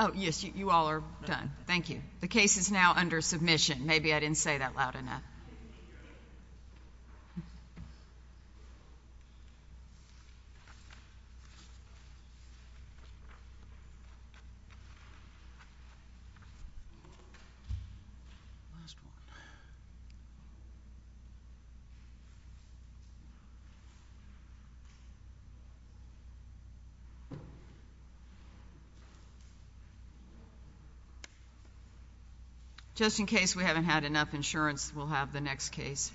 Oh, yes, you all are done. Thank you. The case is now under submission. Maybe I didn't say that loud enough. Just in case we haven't had enough insurance, we'll have the next case.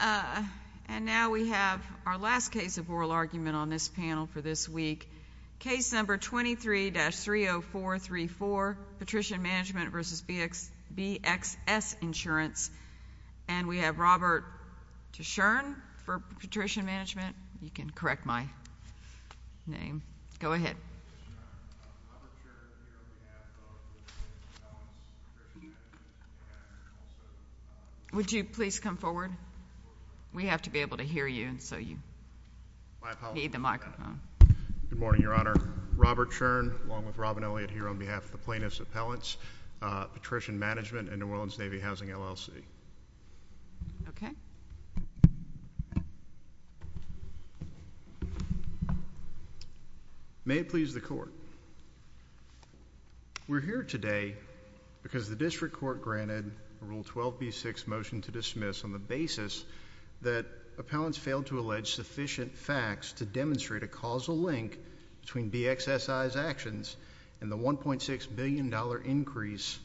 All right. And now we have our last case of oral argument on this panel for this week. Case number 23-30434, Patrician Mgmt v. BXS Insurance. And we have Robert Tishern for Patrician Mgmt. You can correct my name. Go ahead. Robert Tishern, on behalf of the plaintiffs' appellants, Patrician Mgmt, and also— Would you please come forward? We have to be able to hear you, and so you need the microphone. Good morning, Your Honor. Robert Tishern, along with Robin Elliott here on behalf of the plaintiffs' appellants, Patrician Mgmt, and New Orleans Navy Housing, LLC. Okay. We're here today because the district court granted Rule 12b6, Motion to Dismiss, on the basis that appellants failed to allege sufficient facts to demonstrate a causal link between BXSI's actions and the $1.6 billion increase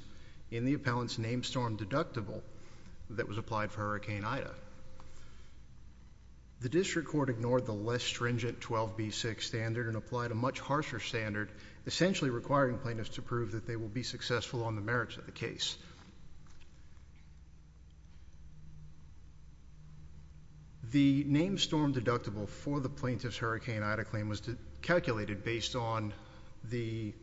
in the appellant's name storm deductible that was applied for Hurricane Ida. The district court ignored the less stringent 12b6 standard and applied a much harsher standard, essentially requiring plaintiffs to prove that they will be successful on the merits of the case. The name storm deductible for the plaintiff's Hurricane Ida claim was calculated based on the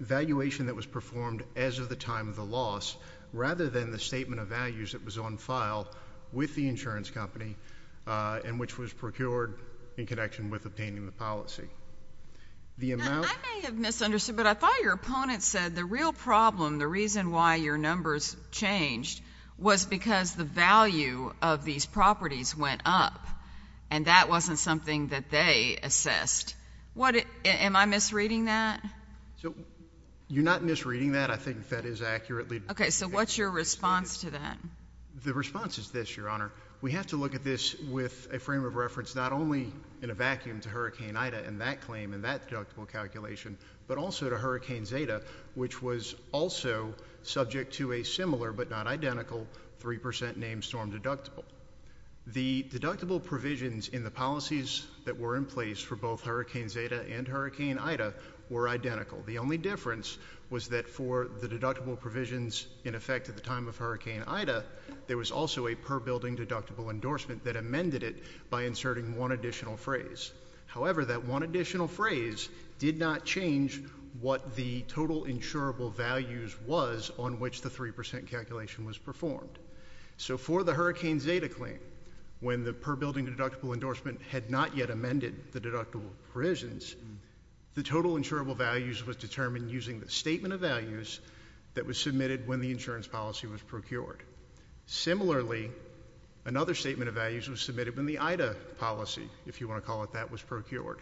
valuation that was performed as of the time of the loss, rather than the statement of values that was on file with the insurance company and which was procured in connection with obtaining the policy. I may have misunderstood, but I thought your opponent said the real problem, the reason why your numbers changed, was because the value of these properties went up, and that wasn't something that they assessed. Am I misreading that? You're not misreading that. I think that is accurately stated. Okay. So what's your response to that? The response is this, Your Honor. We have to look at this with a frame of reference not only in a vacuum to Hurricane Ida and that claim and that deductible calculation, but also to Hurricane Zeta, which was also subject to a similar but not identical 3% name storm deductible. The deductible provisions in the policies that were in place for both Hurricane Zeta and Hurricane Ida were identical. The only difference was that for the deductible provisions in effect at the time of Hurricane Ida, there was also a per building deductible endorsement that amended it by inserting one additional phrase. However, that one additional phrase did not change what the total insurable values was on which the 3% calculation was performed. So for the Hurricane Zeta claim, when the per building deductible endorsement had not yet amended the deductible provisions, the total insurable values was determined using the statement of values that was submitted when the insurance policy was procured. Similarly, another statement of values was submitted when the Ida policy, if you want to call it that, was procured.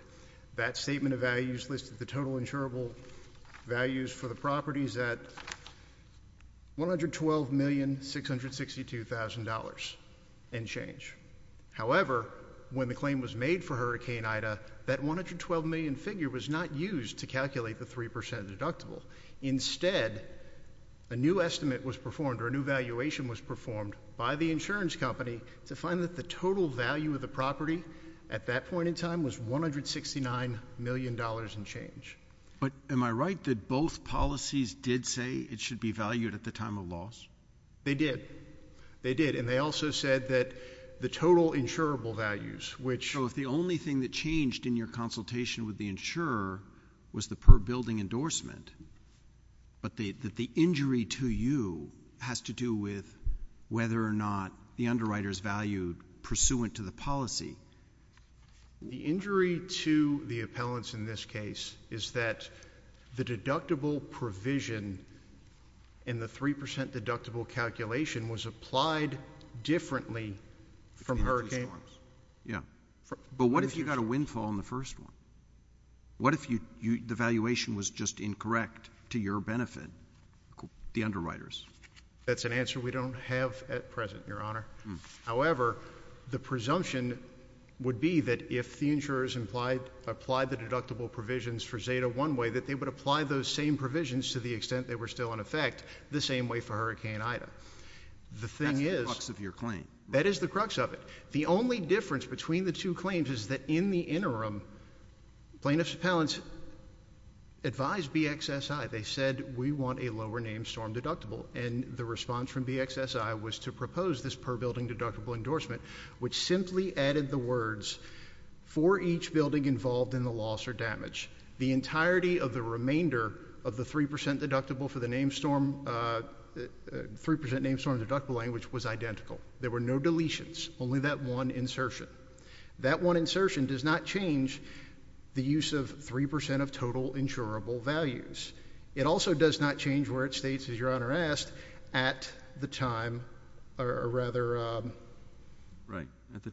That statement of values listed the total insurable values for the properties at $112,662,000 and change. However, when the claim was made for Hurricane Ida, that $112 million figure was not used to calculate the 3% deductible. Instead, a new estimate was performed or a new valuation was performed by the insurance company to find that the total value of the property at that point in time was $169 million and change. But am I right that both policies did say it should be valued at the time of loss? They did. They did, and they also said that the total insurable values, which So if the only thing that changed in your consultation with the insurer was the per building endorsement, but that the injury to you has to do with whether or not the underwriters valued pursuant to the policy. The injury to the appellants in this case is that the deductible provision in the 3% deductible calculation was applied differently from Hurricane Ida. Yeah. But what if you got a windfall in the first one? What if the valuation was just incorrect to your benefit, the underwriters? That's an answer we don't have at present, Your Honor. However, the presumption would be that if the insurers applied the deductible provisions for Zeta one way, that they would apply those same provisions to the extent they were still in effect the same way for Hurricane Ida. That's the crux of your claim. That is the crux of it. The only difference between the two claims is that in the interim, plaintiff's appellants advised BXSI. They said we want a lower name storm deductible, and the response from BXSI was to propose this per building deductible endorsement, which simply added the words for each building involved in the loss or damage. The entirety of the remainder of the 3% deductible for the name storm, 3% name storm deductible language was identical. There were no deletions, only that one insertion. That one insertion does not change the use of 3% of total insurable values. It also does not change where it states, as Your Honor asked, at the time or rather at the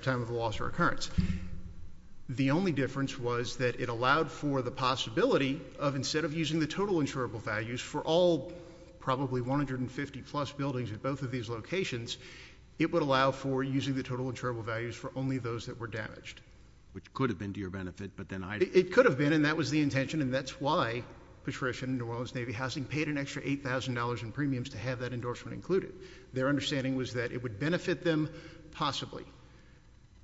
time of the loss or occurrence. The only difference was that it allowed for the possibility of instead of using the total insurable values for all probably 150 plus buildings at both of these locations, it would allow for using the total insurable values for only those that were damaged. Which could have been to your benefit, but then I. It could have been, and that was the intention, and that's why Patrician and New Orleans Navy Housing paid an extra $8,000 in premiums to have that endorsement included. Their understanding was that it would benefit them possibly.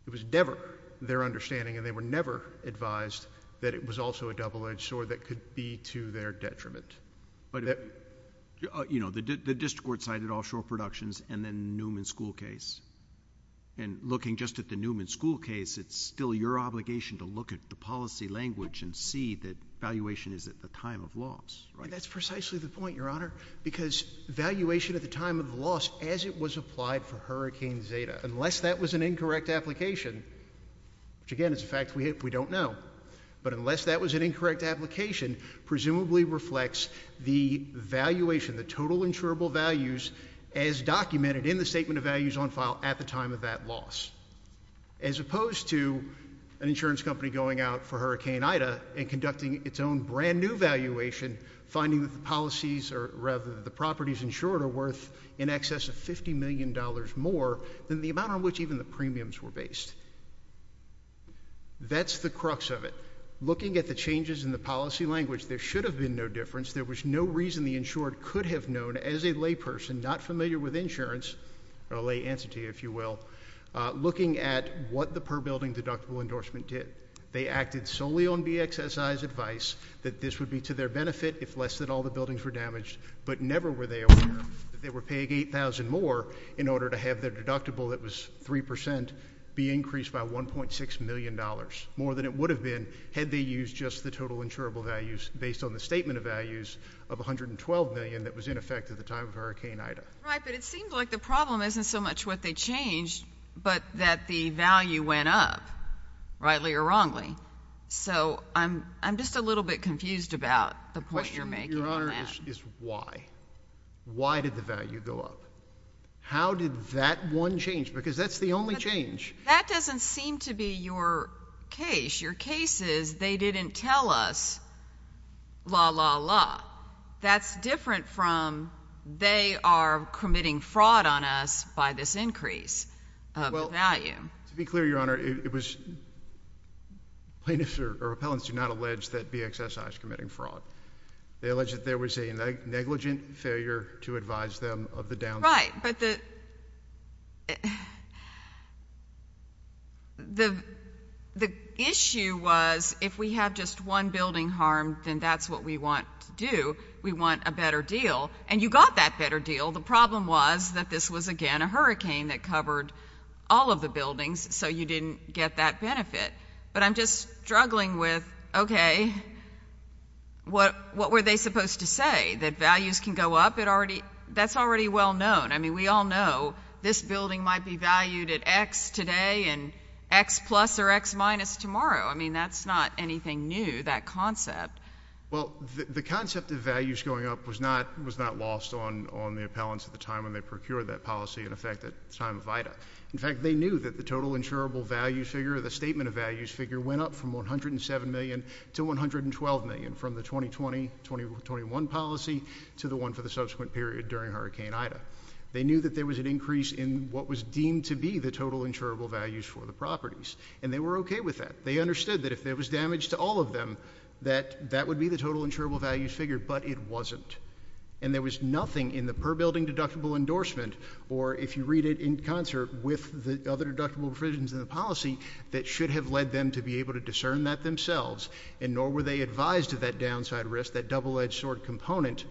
It was never their understanding, and they were never advised that it was also a double-edged sword that could be to their detriment. You know, the district court cited offshore productions and then Newman School case. And looking just at the Newman School case, it's still your obligation to look at the policy language and see that valuation is at the time of loss, right? And that's precisely the point, Your Honor, because valuation at the time of the loss as it was applied for Hurricane Zeta. Unless that was an incorrect application, which again is a fact we don't know. But unless that was an incorrect application, presumably reflects the valuation, the total insurable values as documented in the statement of values on file at the time of that loss. As opposed to an insurance company going out for Hurricane Ida and conducting its own brand new valuation, finding that the properties insured are worth in excess of $50 million more than the amount on which even the premiums were based. That's the crux of it. Looking at the changes in the policy language, there should have been no difference. There was no reason the insured could have known as a layperson, not familiar with insurance, or a lay entity if you will, looking at what the per building deductible endorsement did. They acted solely on BXSI's advice that this would be to their benefit if less than all the buildings were damaged. But never were they aware that they were paying $8,000 more in order to have their deductible that was 3% be increased by $1.6 million, more than it would have been had they used just the total insurable values based on the statement of values of $112 million that was in effect at the time of Hurricane Ida. Right, but it seems like the problem isn't so much what they changed, but that the value went up, rightly or wrongly. So I'm just a little bit confused about the point you're making on that. The question, Your Honor, is why. Why did the value go up? How did that one change? Because that's the only change. That doesn't seem to be your case. Your case is they didn't tell us, la, la, la. Well, that's different from they are committing fraud on us by this increase of the value. Well, to be clear, Your Honor, it was plaintiffs or appellants do not allege that BXSI is committing fraud. They allege that there was a negligent failure to advise them of the downside. Right, but the issue was if we have just one building harmed, then that's what we want to do. We want a better deal. And you got that better deal. The problem was that this was, again, a hurricane that covered all of the buildings, so you didn't get that benefit. But I'm just struggling with, okay, what were they supposed to say, that values can go up? That's already well known. I mean, we all know this building might be valued at X today and X plus or X minus tomorrow. I mean, that's not anything new, that concept. Well, the concept of values going up was not lost on the appellants at the time when they procured that policy, in effect, at the time of Ida. In fact, they knew that the total insurable value figure, the statement of values figure, went up from $107 million to $112 million from the 2020-2021 policy to the one for the subsequent period during Hurricane Ida. They knew that there was an increase in what was deemed to be the total insurable values for the properties, and they were okay with that. They understood that if there was damage to all of them, that that would be the total insurable values figure, but it wasn't. And there was nothing in the per building deductible endorsement, or if you read it in concert with the other deductible provisions in the policy, that should have led them to be able to discern that themselves, and nor were they advised of that downside risk, that double-edged sword component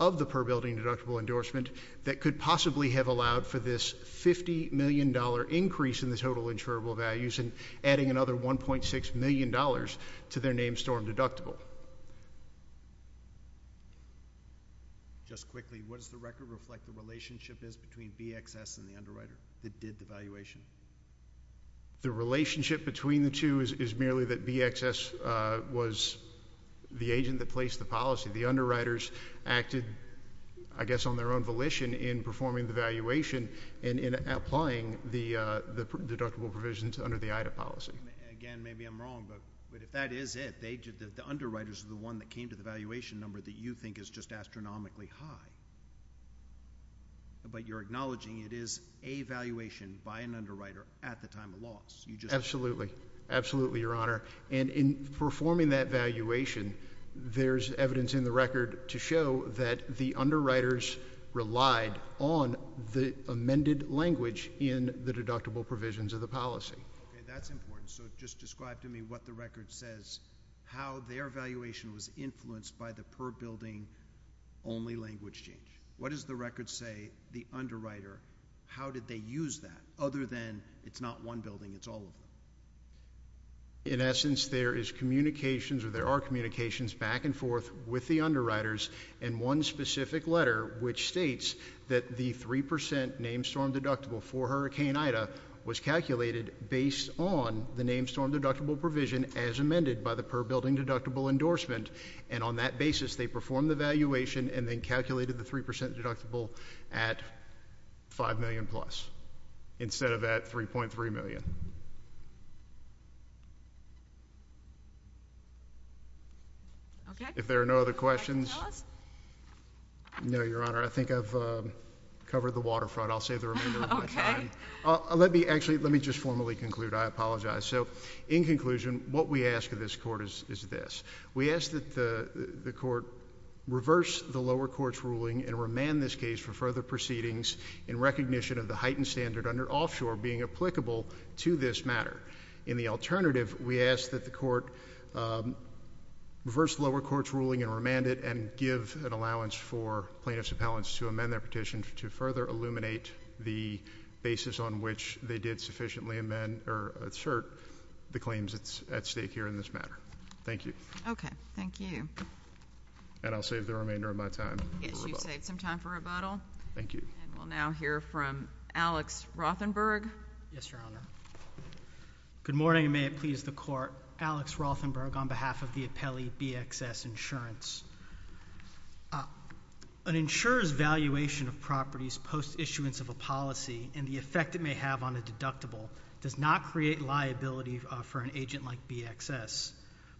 of the per building deductible endorsement, that could possibly have allowed for this $50 million increase in the total insurable values and adding another $1.6 million to their name storm deductible. Just quickly, what does the record reflect the relationship is between BXS and the underwriter that did the valuation? The relationship between the two is merely that BXS was the agent that placed the policy. The underwriters acted, I guess, on their own volition in performing the valuation and in applying the deductible provisions under the Ida policy. Again, maybe I'm wrong, but if that is it, the underwriters are the one that came to the valuation number that you think is just astronomically high, but you're acknowledging it is a valuation by an underwriter at the time of loss. Absolutely. Absolutely, Your Honor. And in performing that valuation, there's evidence in the record to show that the underwriters relied on the amended language in the deductible provisions of the policy. Okay, that's important. So just describe to me what the record says, how their valuation was influenced by the per building only language change. What does the record say, the underwriter, how did they use that, other than it's not one building, it's all of them? In essence, there is communications or there are communications back and forth with the underwriters in one specific letter which states that the 3% name storm deductible for Hurricane Ida was calculated based on the name storm deductible provision as amended by the per building deductible endorsement. And on that basis, they performed the valuation and then calculated the 3% deductible at $5 million plus, instead of at $3.3 million. Okay. If there are no other questions. No, Your Honor, I think I've covered the waterfront. I'll save the remainder of my time. Okay. Actually, let me just formally conclude. I apologize. So in conclusion, what we ask of this Court is this. We ask that the Court reverse the lower court's ruling and remand this case for further proceedings in recognition of the heightened standard under offshore being applicable to this matter. In the alternative, we ask that the Court reverse the lower court's ruling and remand it and give an allowance for plaintiffs' appellants to amend their petition to further illuminate the basis on which they did sufficiently amend or assert the claims at stake here in this matter. Thank you. Okay. Thank you. And I'll save the remainder of my time for rebuttal. Yes, you saved some time for rebuttal. Thank you. And we'll now hear from Alex Rothenberg. Yes, Your Honor. Good morning, and may it please the Court. Alex Rothenberg on behalf of the appellee BXS Insurance. An insurer's valuation of properties post issuance of a policy and the effect it may have on a deductible does not create liability for an agent like BXS.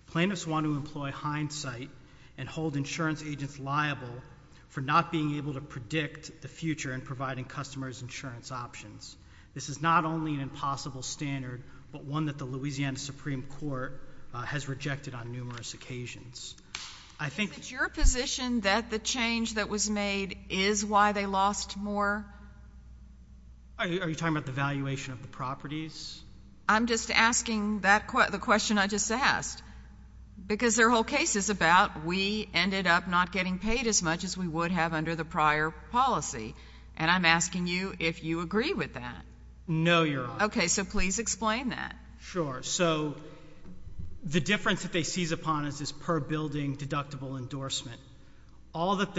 Plaintiffs want to employ hindsight and hold insurance agents liable for not being able to predict the future in providing customers insurance options. This is not only an impossible standard, but one that the Louisiana Supreme Court has rejected on numerous occasions. Is it your position that the change that was made is why they lost more? Are you talking about the valuation of the properties? I'm just asking the question I just asked, because their whole case is about we ended up not getting paid as much as we would have under the prior policy. And I'm asking you if you agree with that. No, Your Honor. Okay. So please explain that. Sure. So the difference that they seize upon is this per building deductible endorsement. All that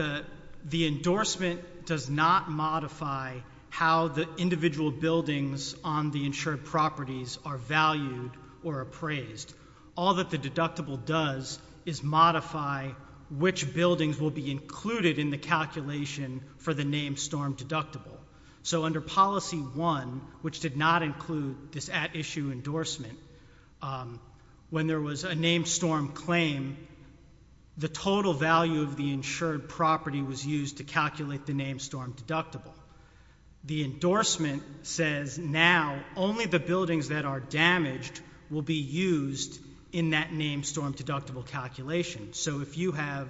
the endorsement does not modify how the individual buildings on the insured properties are valued or appraised. All that the deductible does is modify which buildings will be included in the calculation for the named storm deductible. So under policy one, which did not include this at issue endorsement, when there was a named storm claim, the total value of the insured property was used to calculate the named storm deductible. The endorsement says now only the buildings that are damaged will be used in that named storm deductible calculation. So if you have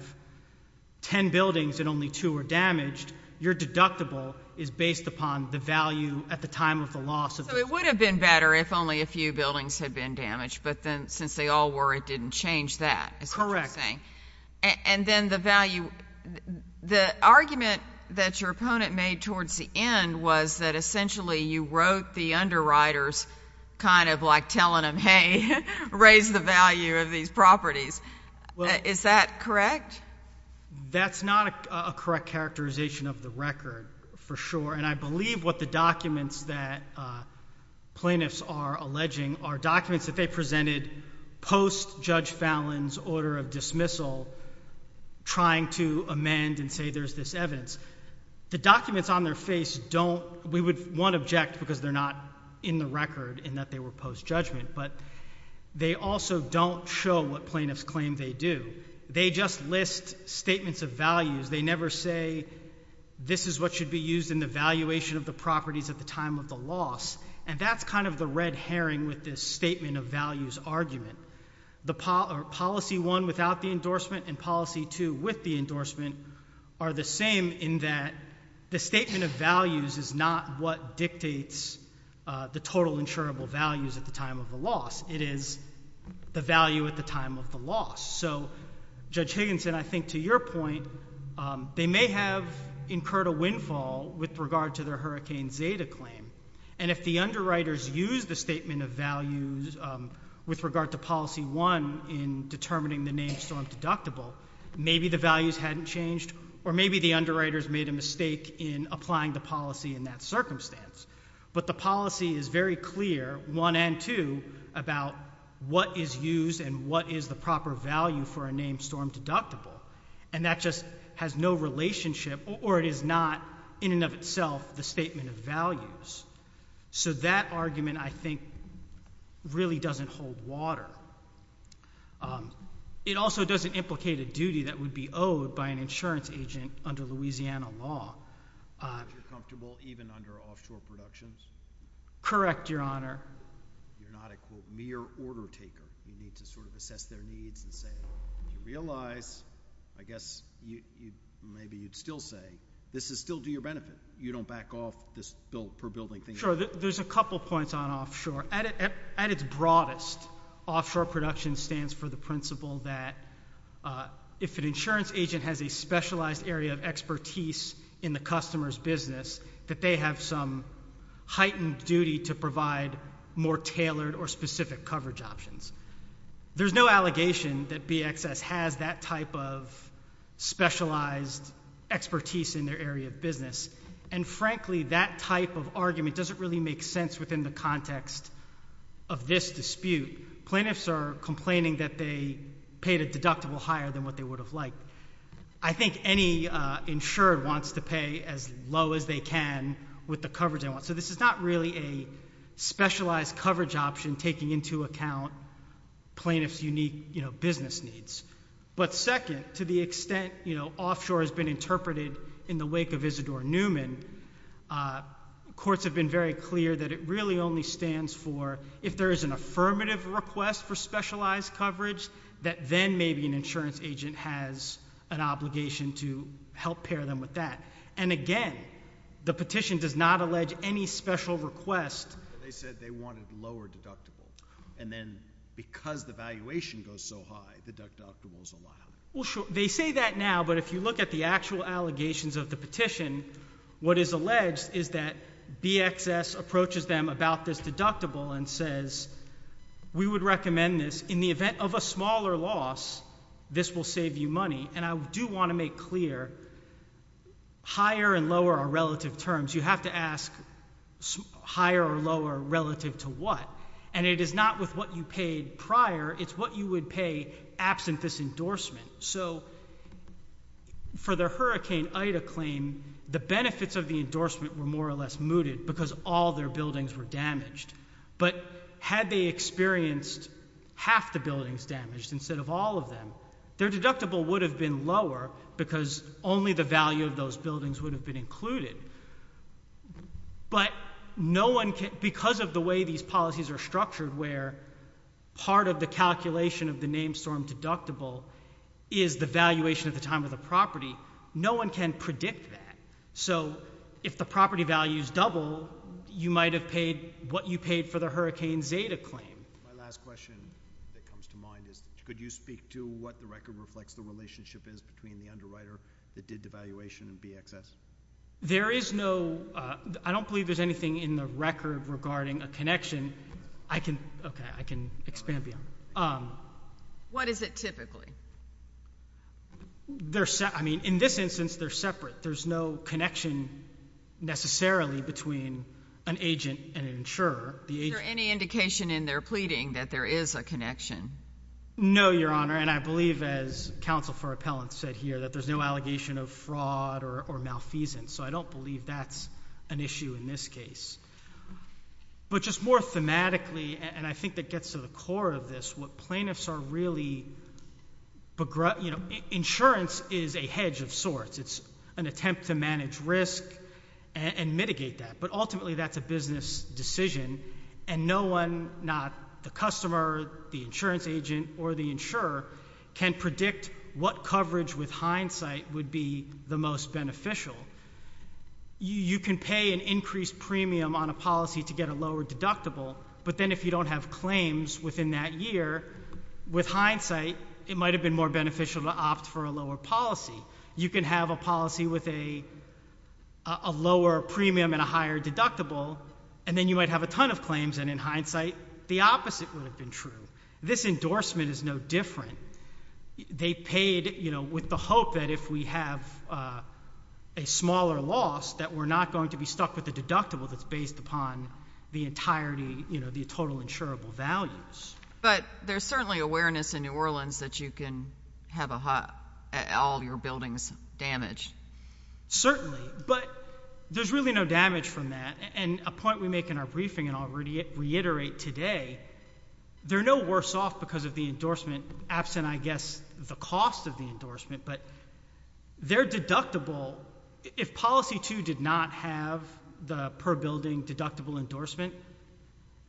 ten buildings and only two are damaged, your deductible is based upon the value at the time of the loss. So it would have been better if only a few buildings had been damaged, but then since they all were, it didn't change that. Is that what you're saying? And then the value, the argument that your opponent made towards the end was that essentially you wrote the underwriters kind of like telling them, okay, raise the value of these properties. Is that correct? That's not a correct characterization of the record, for sure. And I believe what the documents that plaintiffs are alleging are documents that they presented post Judge Fallon's order of dismissal trying to amend and say there's this evidence. The documents on their face don't, we would, one, object because they're not in the record in that they were post-judgment, but they also don't show what plaintiffs claim they do. They just list statements of values. They never say this is what should be used in the valuation of the properties at the time of the loss. And that's kind of the red herring with this statement of values argument. The policy one without the endorsement and policy two with the endorsement are the same in that the statement of values is not what dictates the total insurable values at the time of the loss. It is the value at the time of the loss. So Judge Higginson, I think to your point, they may have incurred a windfall with regard to their Hurricane Zeta claim. And if the underwriters used the statement of values with regard to policy one in determining the name storm deductible, maybe the values hadn't changed or maybe the underwriters made a mistake in applying the policy in that circumstance. But the policy is very clear, one and two, about what is used and what is the proper value for a name storm deductible. And that just has no relationship or it is not in and of itself the statement of values. So that argument, I think, really doesn't hold water. It also doesn't implicate a duty that would be owed by an insurance agent under Louisiana law. But you're comfortable even under offshore productions? Correct, Your Honor. You're not a, quote, mere order taker. You need to sort of assess their needs and say, when you realize, I guess maybe you'd still say, this is still to your benefit. You don't back off this per building thing. Sure. There's a couple points on offshore. At its broadest, offshore production stands for the principle that if an insurance agent has a specialized area of expertise in the customer's business, that they have some heightened duty to provide more tailored or specific coverage options. There's no allegation that BXS has that type of specialized expertise in their area of business. And frankly, that type of argument doesn't really make sense within the context of this dispute. Plaintiffs are complaining that they paid a deductible higher than what they would have liked. I think any insured wants to pay as low as they can with the coverage they want. So this is not really a specialized coverage option taking into account plaintiff's unique business needs. But second, to the extent offshore has been interpreted in the wake of Isidore Newman, courts have been very clear that it really only stands for if there is an affirmative request for specialized coverage, that then maybe an insurance agent has an obligation to help pair them with that. And again, the petition does not allege any special request. They said they wanted lower deductible. And then because the valuation goes so high, deductible is allowed. Well, sure. They say that now, but if you look at the actual allegations of the petition, what is alleged is that BXS approaches them about this deductible and says, we would recommend this in the event of a smaller loss, this will save you money. And I do want to make clear, higher and lower are relative terms. You have to ask higher or lower relative to what? And it is not with what you paid prior. It's what you would pay absent this endorsement. So for the Hurricane Ida claim, the benefits of the endorsement were more or less mooted because all their buildings were damaged. But had they experienced half the buildings damaged instead of all of them, their deductible would have been lower because only the value of those buildings would have been included. Part of the calculation of the name storm deductible is the valuation at the time of the property. No one can predict that. So if the property value is double, you might have paid what you paid for the Hurricane Zeta claim. My last question that comes to mind is could you speak to what the record reflects the relationship is between the underwriter that did the valuation and BXS? There is no ‑‑ I don't believe there's anything in the record regarding a connection. Okay, I can expand beyond that. What is it typically? I mean, in this instance, they're separate. There's no connection necessarily between an agent and an insurer. Is there any indication in their pleading that there is a connection? No, Your Honor, and I believe, as counsel for appellants said here, that there's no allegation of fraud or malfeasance. So I don't believe that's an issue in this case. But just more thematically, and I think that gets to the core of this, what plaintiffs are really ‑‑ you know, insurance is a hedge of sorts. It's an attempt to manage risk and mitigate that. But ultimately, that's a business decision, and no one, not the customer, the insurance agent, or the insurer can predict what coverage with hindsight would be the most beneficial. You can pay an increased premium on a policy to get a lower deductible, but then if you don't have claims within that year, with hindsight, it might have been more beneficial to opt for a lower policy. You can have a policy with a lower premium and a higher deductible, and then you might have a ton of claims, and in hindsight, the opposite would have been true. This endorsement is no different. They paid, you know, with the hope that if we have a smaller loss, that we're not going to be stuck with the deductible that's based upon the entirety, you know, the total insurable values. But there's certainly awareness in New Orleans that you can have all your buildings damaged. Certainly, but there's really no damage from that. And a point we make in our briefing, and I'll reiterate today, they're no worse off because of the endorsement, absent, I guess, the cost of the endorsement, but their deductible, if Policy 2 did not have the per building deductible endorsement,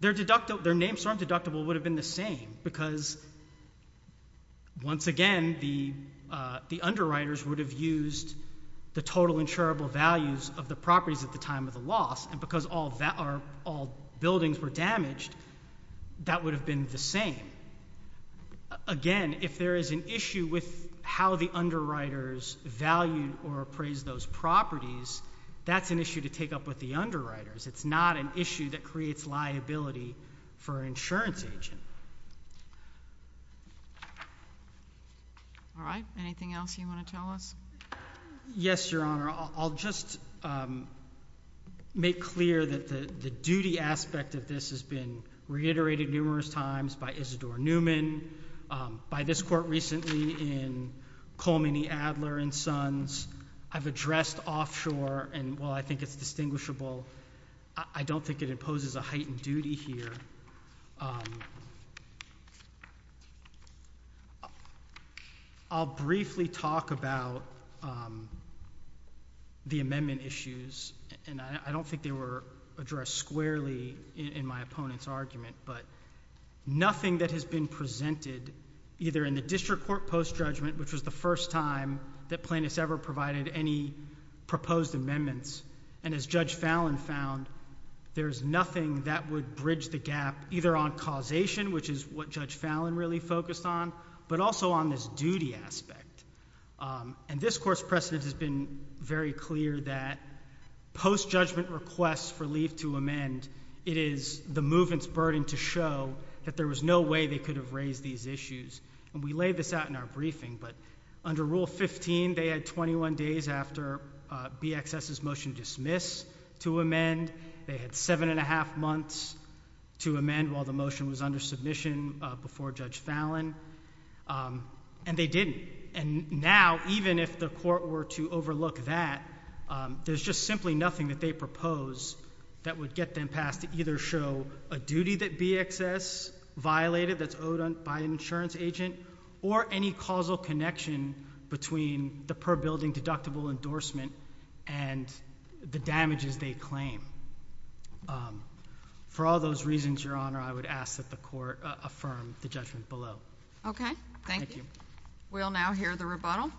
their name storm deductible would have been the same because, once again, the underwriters would have used the total insurable values of the properties at the time of the loss, and because all buildings were damaged, that would have been the same. Again, if there is an issue with how the underwriters valued or appraised those properties, that's an issue to take up with the underwriters. It's not an issue that creates liability for an insurance agent. All right. Anything else you want to tell us? Yes, Your Honor. I'll just make clear that the duty aspect of this has been reiterated numerous times by Isidore Newman, by this court recently in Coleman E. Adler and Sons. I've addressed offshore, and while I think it's distinguishable, I don't think it imposes a heightened duty here. I'll briefly talk about the amendment issues, and I don't think they were addressed squarely in my opponent's argument, but nothing that has been presented either in the district court post-judgment, which was the first time that plaintiffs ever provided any proposed amendments, and as Judge Fallin found, there's nothing that would bridge the gap either on causation, which is what Judge Fallin really focused on, but also on this duty aspect. And this court's precedent has been very clear that post-judgment requests for leave to amend, it is the movement's burden to show that there was no way they could have raised these issues. And we laid this out in our briefing, but under Rule 15, they had 21 days after BXS's motion to dismiss to amend. They had seven and a half months to amend while the motion was under submission before Judge Fallin, and they didn't. And now, even if the court were to overlook that, there's just simply nothing that they propose that would get them past to either show a duty that BXS violated that's owed by an insurance agent or any causal connection between the per-building deductible endorsement and the damages they claim. For all those reasons, Your Honor, I would ask that the court affirm the judgment below. Okay. Thank you. We'll now hear the rebuttal.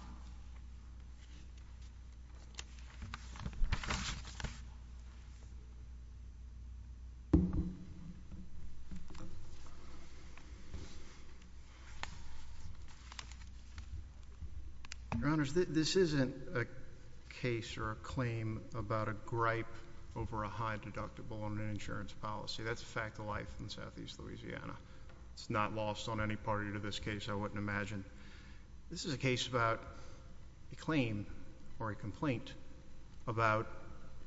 Your Honors, this isn't a case or a claim about a gripe over a high deductible on an insurance policy. That's a fact of life in southeast Louisiana. It's not lost on any party to this case, I wouldn't imagine. This is a case about a claim or a complaint about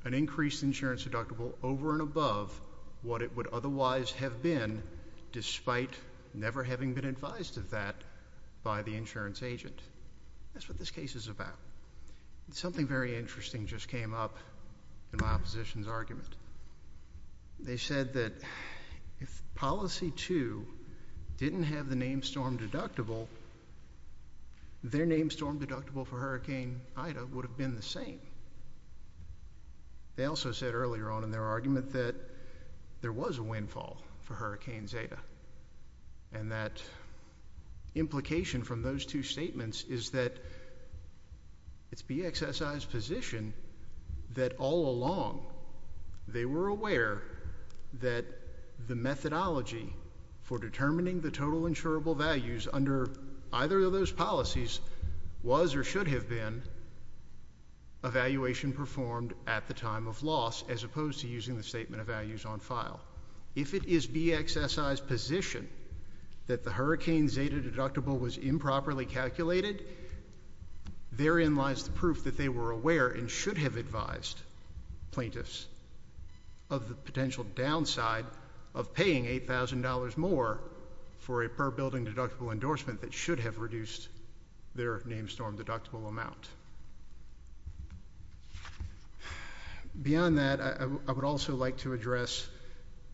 an increased insurance deductible over and above what it would otherwise have been despite never having been advised of that by the insurance agent. That's what this case is about. Something very interesting just came up in my opposition's argument. They said that if policy two didn't have the name storm deductible, their name storm deductible for Hurricane Ida would have been the same. They also said earlier on in their argument that there was a windfall for Hurricane Zeta. And that implication from those two statements is that it's BXSI's position that all along they were aware that the methodology for determining the total insurable values under either of those policies was or should have been evaluation performed at the time of loss as opposed to using the statement of values on file. If it is BXSI's position that the Hurricane Zeta deductible was improperly calculated, therein lies the proof that they were aware and should have advised plaintiffs of the potential downside of paying $8,000 more for a per building deductible endorsement that should have reduced their name storm deductible amount. Beyond that, I would also like to address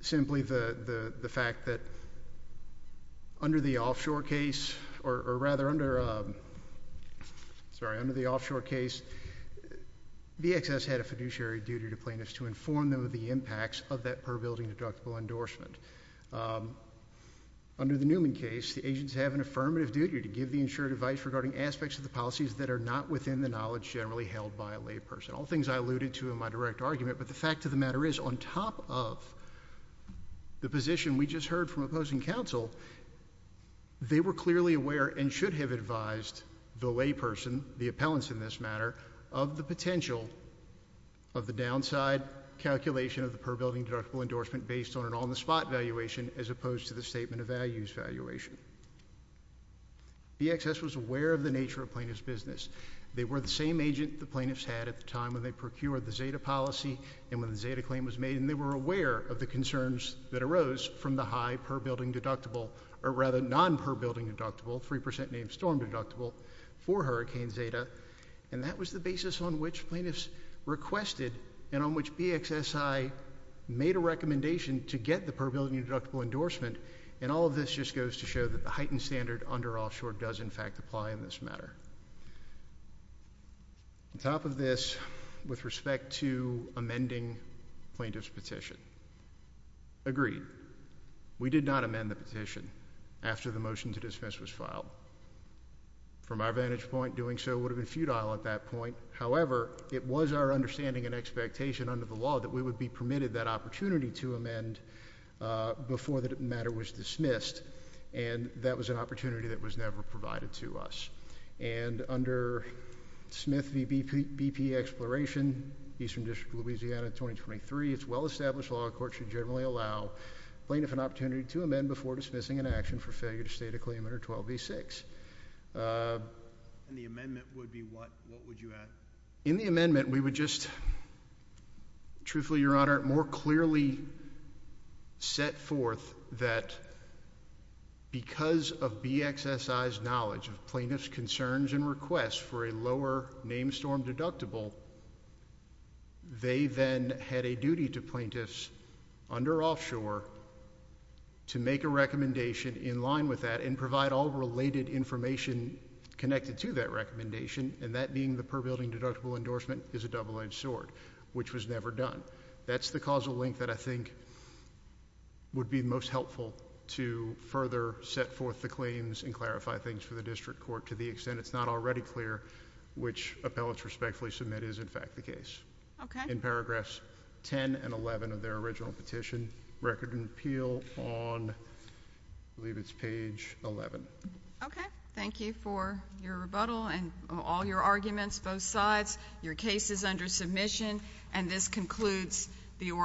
simply the fact that under the offshore case, BXS had a fiduciary duty to plaintiffs to inform them of the impacts of that per building deductible endorsement. Under the Newman case, the agents have an affirmative duty to give the insured advice regarding aspects of the policies that are not within the knowledge generally held by a layperson. All things I alluded to in my direct argument, but the fact of the matter is, on top of the position we just heard from opposing counsel, they were clearly aware and should have advised the layperson, the appellants in this matter, of the potential of the downside calculation of the per building deductible endorsement based on an on-the-spot valuation as opposed to the statement of values valuation. BXS was aware of the nature of plaintiffs' business. They were the same agent the plaintiffs had at the time when they procured the Zeta policy and when the Zeta claim was made, and they were aware of the concerns that arose from the high per building deductible, or rather non-per building deductible, 3% named storm deductible for Hurricane Zeta, and that was the basis on which plaintiffs requested and on which BXSI made a recommendation to get the per building deductible endorsement, and all of this just goes to show that the heightened standard under Offshore does, in fact, apply in this matter. On top of this, with respect to amending plaintiffs' petition, agreed, we did not amend the petition after the motion to dismiss was filed. From our vantage point, doing so would have been futile at that point. However, it was our understanding and expectation under the law that we would be permitted that opportunity to amend before the matter was dismissed, and that was an opportunity that was never provided to us, and under Smith v. BP Exploration, Eastern District of Louisiana, 2023, it's well-established law that courts should generally allow plaintiff an opportunity to amend before dismissing an action for failure to state a claim under 12 v. 6. And the amendment would be what? What would you add? In the amendment, we would just, truthfully, Your Honor, more clearly set forth that because of BXSI's knowledge of plaintiffs' concerns and requests for a lower named storm deductible, they then had a duty to plaintiffs under Offshore to make a recommendation in line with that and provide all related information connected to that recommendation, and that being the per building deductible endorsement is a double-edged sword, which was never done. That's the causal link that I think would be most helpful to further set forth the claims and clarify things for the district court to the extent it's not already clear which appellate's respectfully submit is, in fact, the case. Okay. In paragraphs 10 and 11 of their original petition. Record and appeal on, I believe it's page 11. Okay. Thank you for your rebuttal and all your arguments, both sides. Your case is under submission, and this concludes the oral argument.